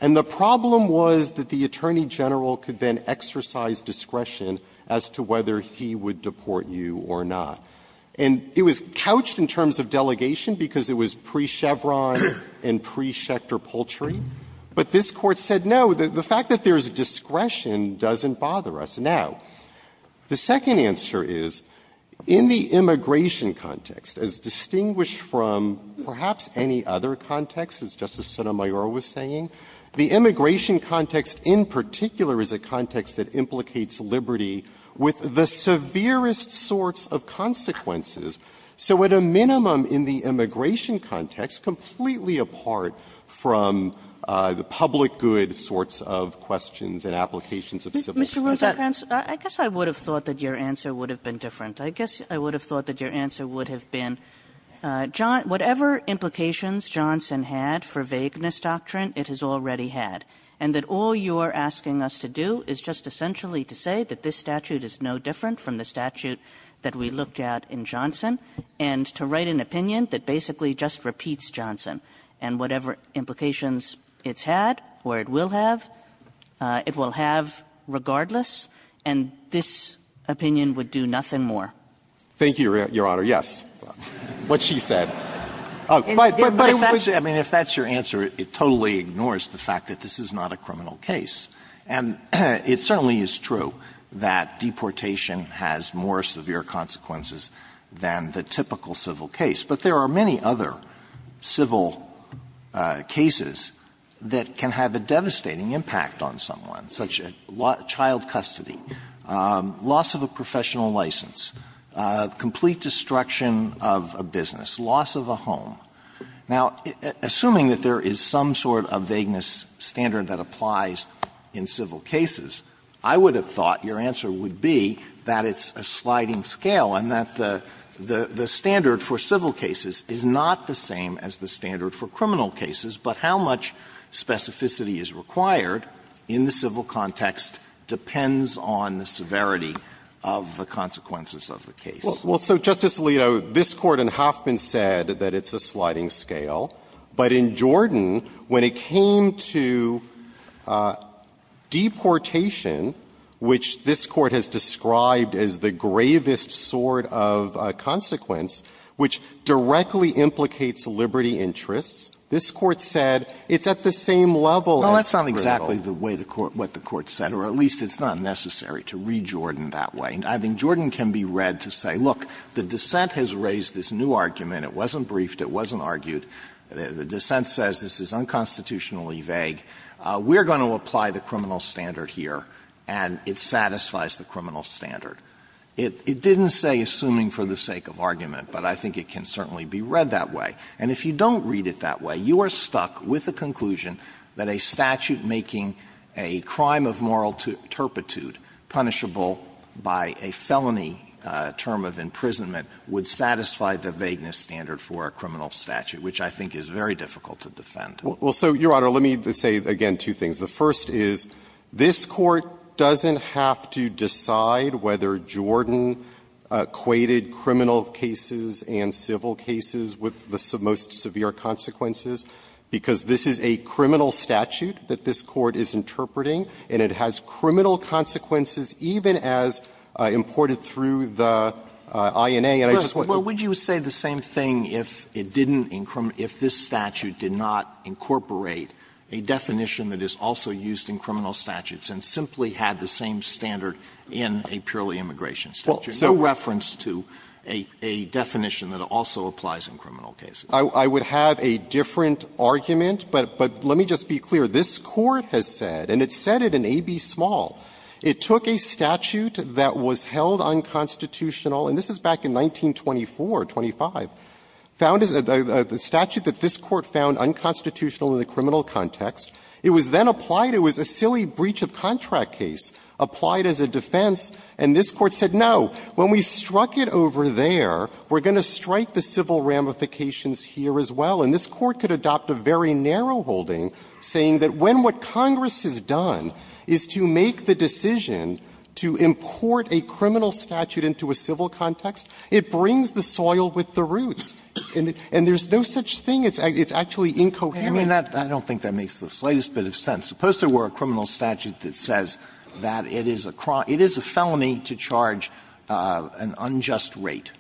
and the problem was that the Attorney General could then exercise discretion as to whether he would deport you or not. And it was couched in terms of delegation because it was pre-Chevron and pre-Schecter poultry, but this Court said, no, the fact that there is discretion doesn't bother us. Now, the second answer is, in the immigration context, as distinguished from perhaps any other context, as Justice Sotomayor was saying, the immigration context in particular is a context that implicates liberty with the severest sorts of consequences. So at a minimum in the immigration context, completely apart from the public good sorts of questions and applications of civil scrutiny. Kagan. Kagan. Kagan. Kagan. I guess I would have thought that your answer would have been different. I guess I would have thought that your answer would have been, whatever implications Johnson had for vagueness doctrine, it has already had, and that all you're asking us to do is just essentially to say that this statute is no different from the statute that we looked at in Johnson, and to write an opinion that basically just repeats Johnson, and whatever implications it's had, or it will have, it will have regardless, and this opinion would do nothing more. Thank you, Your Honor, yes, what she said. But it was the same. I mean, if that's your answer, it totally ignores the fact that this is not a criminal case. And it certainly is true that deportation has more severe consequences than the typical civil case. But there are many other civil cases that can have a devastating impact on someone, such as child custody, loss of a professional license, complete destruction of a business, loss of a home. Now, assuming that there is some sort of vagueness standard that applies in civil cases, I would have thought your answer would be that it's a sliding scale and that the standard for civil cases is not the same as the standard for criminal cases, but how much specificity is required in the civil context depends on the severity of the consequences of the case. Well, so, Justice Alito, this Court in Hoffman said that it's a sliding scale. But in Jordan, when it came to deportation, which this Court has described as the gravest sort of consequence, which directly implicates liberty interests, this Court said it's at the same level as criminal. Well, that's not exactly the way the Court, what the Court said, or at least it's not necessary to read Jordan that way. And I think Jordan can be read to say, look, the dissent has raised this new argument. It wasn't briefed. It wasn't argued. The dissent says this is unconstitutionally vague. We're going to apply the criminal standard here, and it satisfies the criminal standard. It didn't say assuming for the sake of argument, but I think it can certainly be read that way. And if you don't read it that way, you are stuck with the conclusion that a statute making a crime of moral turpitude punishable by a felony term of imprisonment would satisfy the vagueness standard for a criminal statute, which I think is very difficult to defend. Well, so, Your Honor, let me say again two things. The first is, this Court doesn't have to decide whether Jordan equated criminal cases and civil cases with the most severe consequences, because this is a criminal statute that this Court is interpreting, and it has criminal consequences even as imported through the INA. And I just want to say the same thing if it didn't, if this statute did not incorporate a definition that is also used in criminal statutes and simply had the same standard in a purely immigration statute, no reference to a definition that also applies in criminal cases. I would have a different argument, but let me just be clear. This Court has said, and it said it in A.B. Small, it took a statute that was held unconstitutional, and this is back in 1924, 25, found as a statute that this Court found unconstitutional in the criminal context. It was then applied. It was a silly breach of contract case applied as a defense, and this Court said, no, when we struck it over there, we're going to strike the civil ramifications here as well. And this Court could adopt a very narrow holding, saying that when what Congress has done is to make the decision to import a criminal statute into a civil context, it brings the soil with the roots. And there's no such thing. It's actually incoherent. Alito, I mean, I don't think that makes the slightest bit of sense. Suppose there were a criminal statute that says that it is a felony to charge an unjust rate,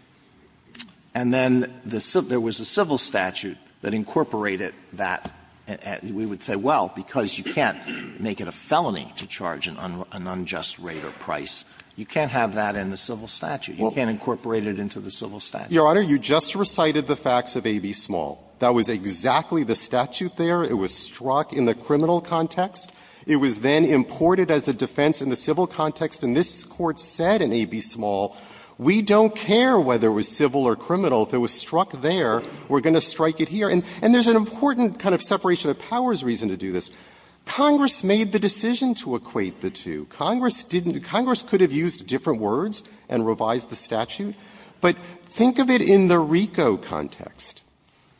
and then there was a civil statute that incorporated that, and we would say, well, because you can't make it a felony to charge an unjust rate or price, you can't have that in the civil statute. You can't incorporate it into the civil statute. Your Honor, you just recited the facts of AB Small. That was exactly the statute there. It was struck in the criminal context. It was then imported as a defense in the civil context, and this Court said in AB Small, we don't care whether it was civil or criminal. If it was struck there, we're going to strike it here. And there's an important kind of separation of powers reason to do this. Congress made the decision to equate the two. Congress didn't do that. Congress could have used different words and revised the statute. But think of it in the RICO context.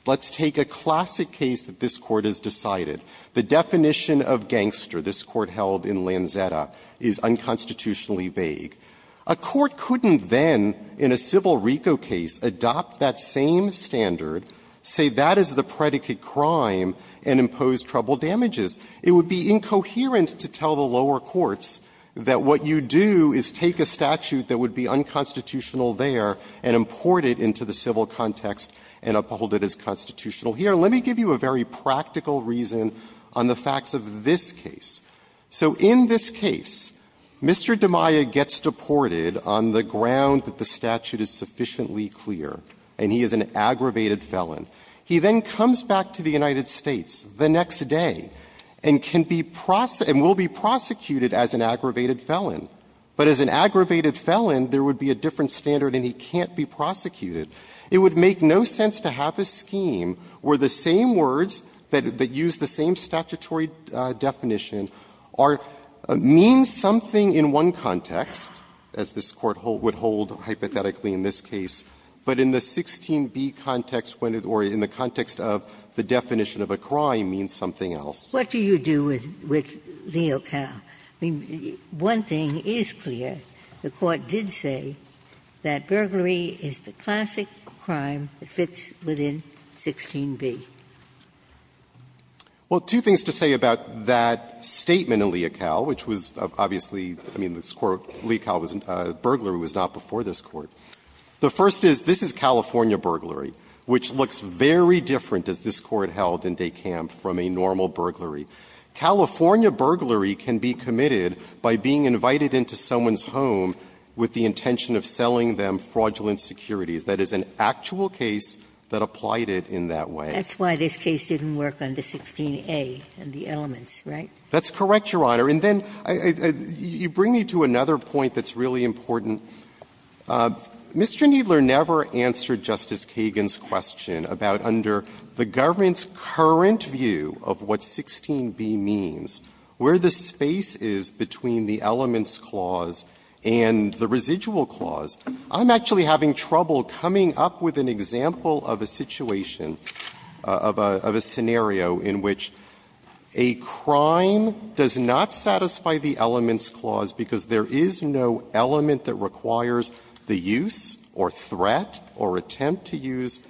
Let's take a classic case that this Court has decided. The definition of gangster this Court held in Lanzetta is unconstitutionally vague. A court couldn't then, in a civil RICO case, adopt that same standard, say that is the predicate crime, and impose trouble damages. It would be incoherent to tell the lower courts that what you do is take a statute that would be unconstitutional there and import it into the civil context and uphold it as constitutional here. Let me give you a very practical reason on the facts of this case. So in this case, Mr. DiMaia gets deported on the ground that the statute is sufficiently clear, and he is an aggravated felon. He then comes back to the United States the next day and can be prosecuted and will be prosecuted as an aggravated felon. But as an aggravated felon, there would be a different standard and he can't be prosecuted. It would make no sense to have a scheme where the same words that use the same statutory definition are mean something in one context, as this Court would hold hypothetically in this case, but in the 16b context, or in the context of the definition of a crime, means something else. Ginsburg. What do you do with Leocow? I mean, one thing is clear. The Court did say that burglary is the classic crime that fits within 16b. Well, two things to say about that statement in Leocow, which was obviously the court, Leocow was not, burglary was not before this Court. The first is, this is California burglary, which looks very different, as this Court held in DeKalb, from a normal burglary. California burglary can be committed by being invited into someone's home with the intention of selling them fraudulent securities. That is an actual case that applied it in that way. That's why this case didn't work under 16a in the elements, right? That's correct, Your Honor. And then you bring me to another point that's really important. Mr. Kneedler never answered Justice Kagan's question about under the government's current view of what 16b means, where the space is between the elements clause and the residual clause. I'm actually having trouble coming up with an example of a situation, of a scenario in which a crime does not satisfy the elements clause because there is no element that requires the use or threat or attempt to use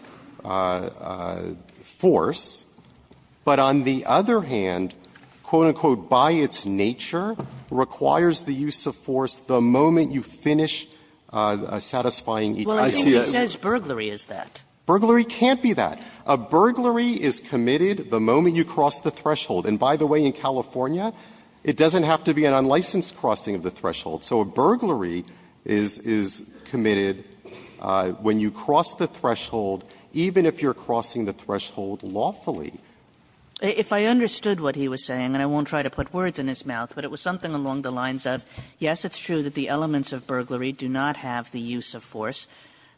force, but on the other hand, quote, unquote, by its nature, requires the use of force the moment you finish satisfying each element. Sotomayor, I think he says burglary is that. Burglary can't be that. A burglary is committed the moment you cross the threshold. And by the way, in California, it doesn't have to be an unlicensed crossing of the threshold. So a burglary is committed when you cross the threshold, even if you're crossing the threshold lawfully. Kagan. Kagan. If I understood what he was saying, and I won't try to put words in his mouth, but it was something along the lines of, yes, it's true that the elements of burglary do not have the use of force,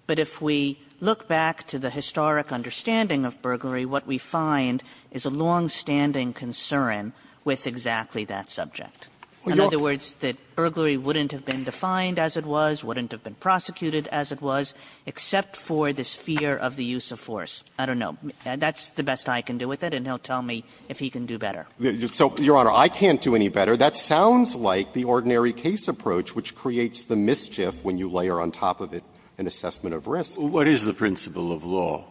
but if we look back to the historic understanding of burglary, what we find is a longstanding concern with exactly that subject. In other words, that burglary wouldn't have been defined as it was, wouldn't have been prosecuted as it was, except for this fear of the use of force. I don't know. That's the best I can do with it, and he'll tell me if he can do better. So, Your Honor, I can't do any better. That sounds like the ordinary case approach, which creates the mischief when you layer on top of it an assessment of risk. What is the principle of law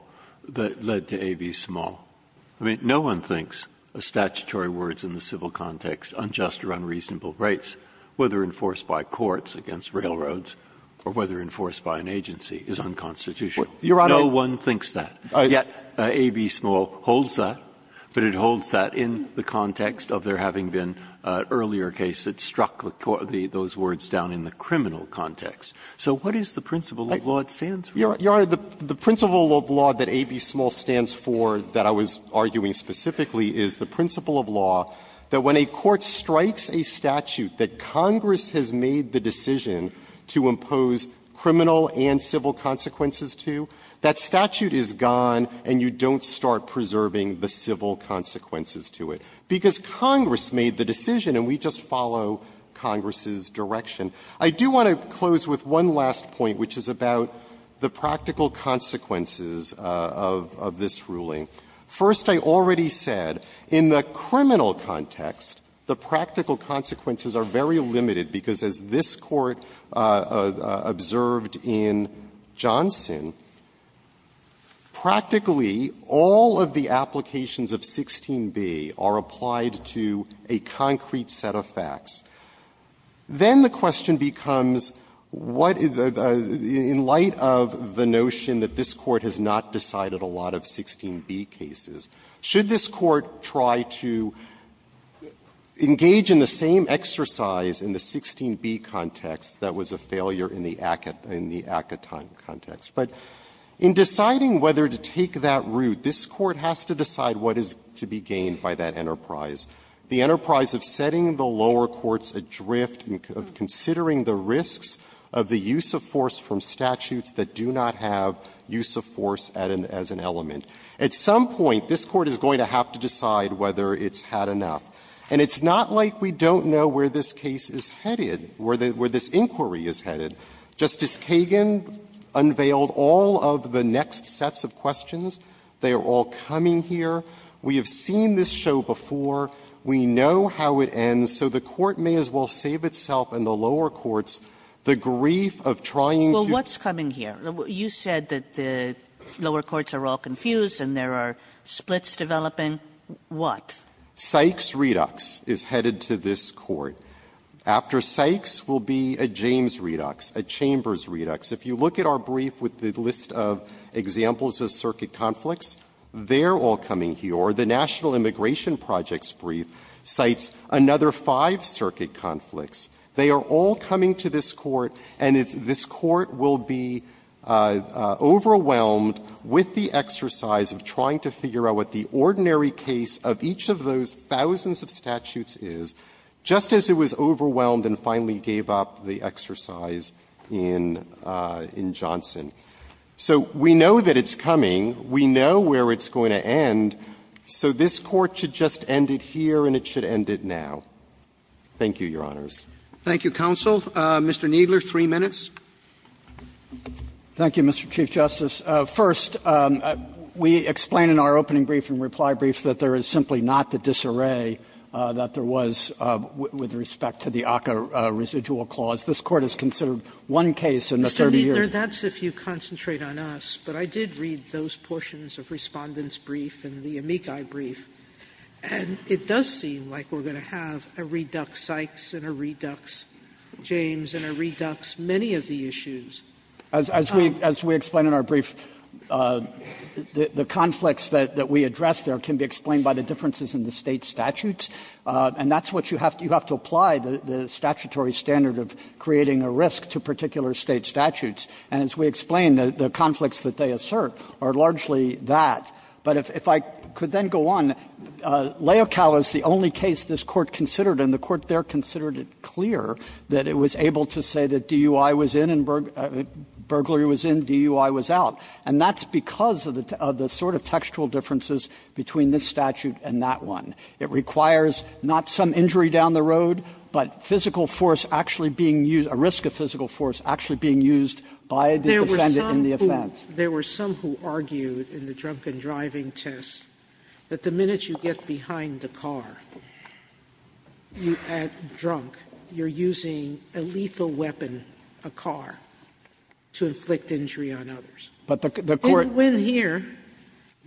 that led to AB Small? I mean, no one thinks of statutory words in the civil context, unjust or unreasonable rights, whether enforced by courts against railroads or whether enforced by an agency, is unconstitutional. No one thinks that. AB Small holds that, but it holds that in the context of there having been earlier cases that struck those words down in the criminal context. So what is the principle of law it stands for? The principle of law that I was arguing specifically is the principle of law that when a court strikes a statute that Congress has made the decision to impose criminal and civil consequences to, that statute is gone and you don't start preserving the civil consequences to it, because Congress made the decision and we just follow Congress's direction. I do want to close with one last point, which is about the practical consequences of this ruling. First, I already said, in the criminal context, the practical consequences are very limited, because as this Court observed in Johnson, practically all of the applications of 16b are applied to a concrete set of facts. Then the question becomes what, in light of the notion that this Court has made that this Court has not decided a lot of 16b cases, should this Court try to engage in the same exercise in the 16b context that was a failure in the Akaton context? But in deciding whether to take that route, this Court has to decide what is to be gained by that enterprise. The enterprise of setting the lower courts adrift, of considering the risks of the use of force from statutes that do not have use of force as an element. At some point, this Court is going to have to decide whether it's had enough. And it's not like we don't know where this case is headed, where this inquiry is headed. Justice Kagan unveiled all of the next sets of questions. They are all coming here. We have seen this show before. We know how it ends. So the Court may as well save itself and the lower courts the grief of trying Kagan Well, what's coming here? You said that the lower courts are all confused and there are splits developing. What? Sykes-Redux is headed to this Court. After Sykes will be a James-Redux, a Chambers-Redux. If you look at our brief with the list of examples of circuit conflicts, they're all coming here. The National Immigration Projects Brief cites another five circuit conflicts. They are all coming to this Court, and this Court will be overwhelmed with the exercise of trying to figure out what the ordinary case of each of those thousands of statutes is, just as it was overwhelmed and finally gave up the exercise in Johnson. So we know that it's coming. We know where it's going to end. So this Court should just end it here and it should end it now. Thank you, Your Honors. Roberts Thank you, counsel. Mr. Kneedler, three minutes. Kneedler, thank you, Mr. Chief Justice. First, we explain in our opening brief and reply brief that there is simply not the disarray that there was with respect to the ACCA residual clause. This Court has considered one case in the 30 years. Sotomayor, that's if you concentrate on us, but I did read those portions of Respondent's brief and the Amici brief, and it does seem like we're going to have a redux Sykes and a redux James and a redux many of the issues. Kneedler, as we explain in our brief, the conflicts that we address there can be explained by the differences in the State statutes, and that's what you have to apply, the statutory standard of creating a risk to particular State statutes. And as we explain, the conflicts that they assert are largely that. But if I could then go on. Leocal is the only case this Court considered, and the Court there considered it clear that it was able to say that DUI was in and burglary was in, DUI was out. And that's because of the sort of textual differences between this statute and that one. It requires not some injury down the road, but physical force actually being used or risk of physical force actually being used by the defendant in the offense. Sotomayor, there were some who argued in the drunken driving test that the minute you get behind the car, you add drunk, you're using a lethal weapon, a car, to inflict injury on others. Kneedler, but the Court the Court didn't win here,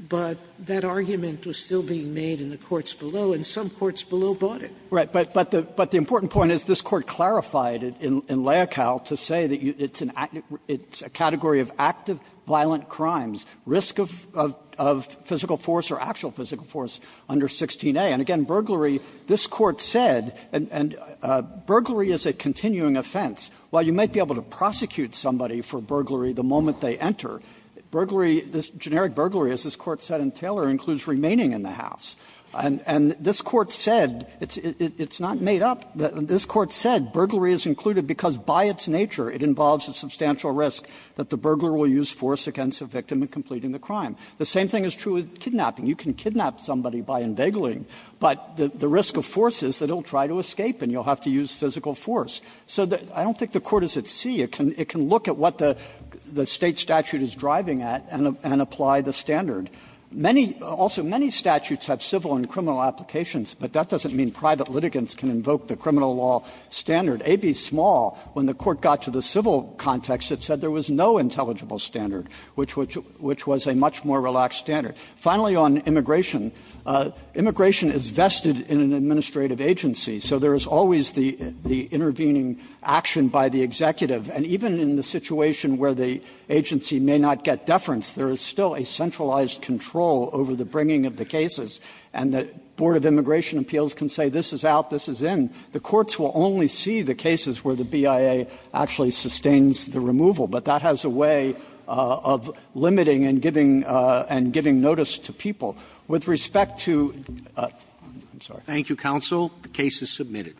but that argument was still being made in the courts below, and some courts below bought it. Kneedler, But the important point is this Court clarified it in Leocal to say that it's a category of active violent crimes, risk of physical force or actual physical force under 16a. And again, burglary, this Court said, and burglary is a continuing offense. While you might be able to prosecute somebody for burglary the moment they enter, burglary, this generic burglary, as this Court said in Taylor, includes remaining in the house. And this Court said, it's not made up, this Court said burglary is included because by its nature it involves a substantial risk that the burglar will use force against the victim in completing the crime. The same thing is true with kidnapping. You can kidnap somebody by inveigling, but the risk of force is that he'll try to escape and you'll have to use physical force. So I don't think the Court is at sea. It can look at what the State statute is driving at and apply the standard. Many, also many statutes have civil and criminal applications, but that doesn't mean private litigants can invoke the criminal law standard. AB Small, when the Court got to the civil context, it said there was no intelligible standard, which was a much more relaxed standard. Finally, on immigration, immigration is vested in an administrative agency. So there is always the intervening action by the executive. And even in the situation where the agency may not get deference, there is still a centralized control over the bringing of the cases. And the Board of Immigration Appeals can say this is out, this is in. The courts will only see the cases where the BIA actually sustains the removal, but that has a way of limiting and giving notice to people. With respect to the other case, I'm sorry. Submitted.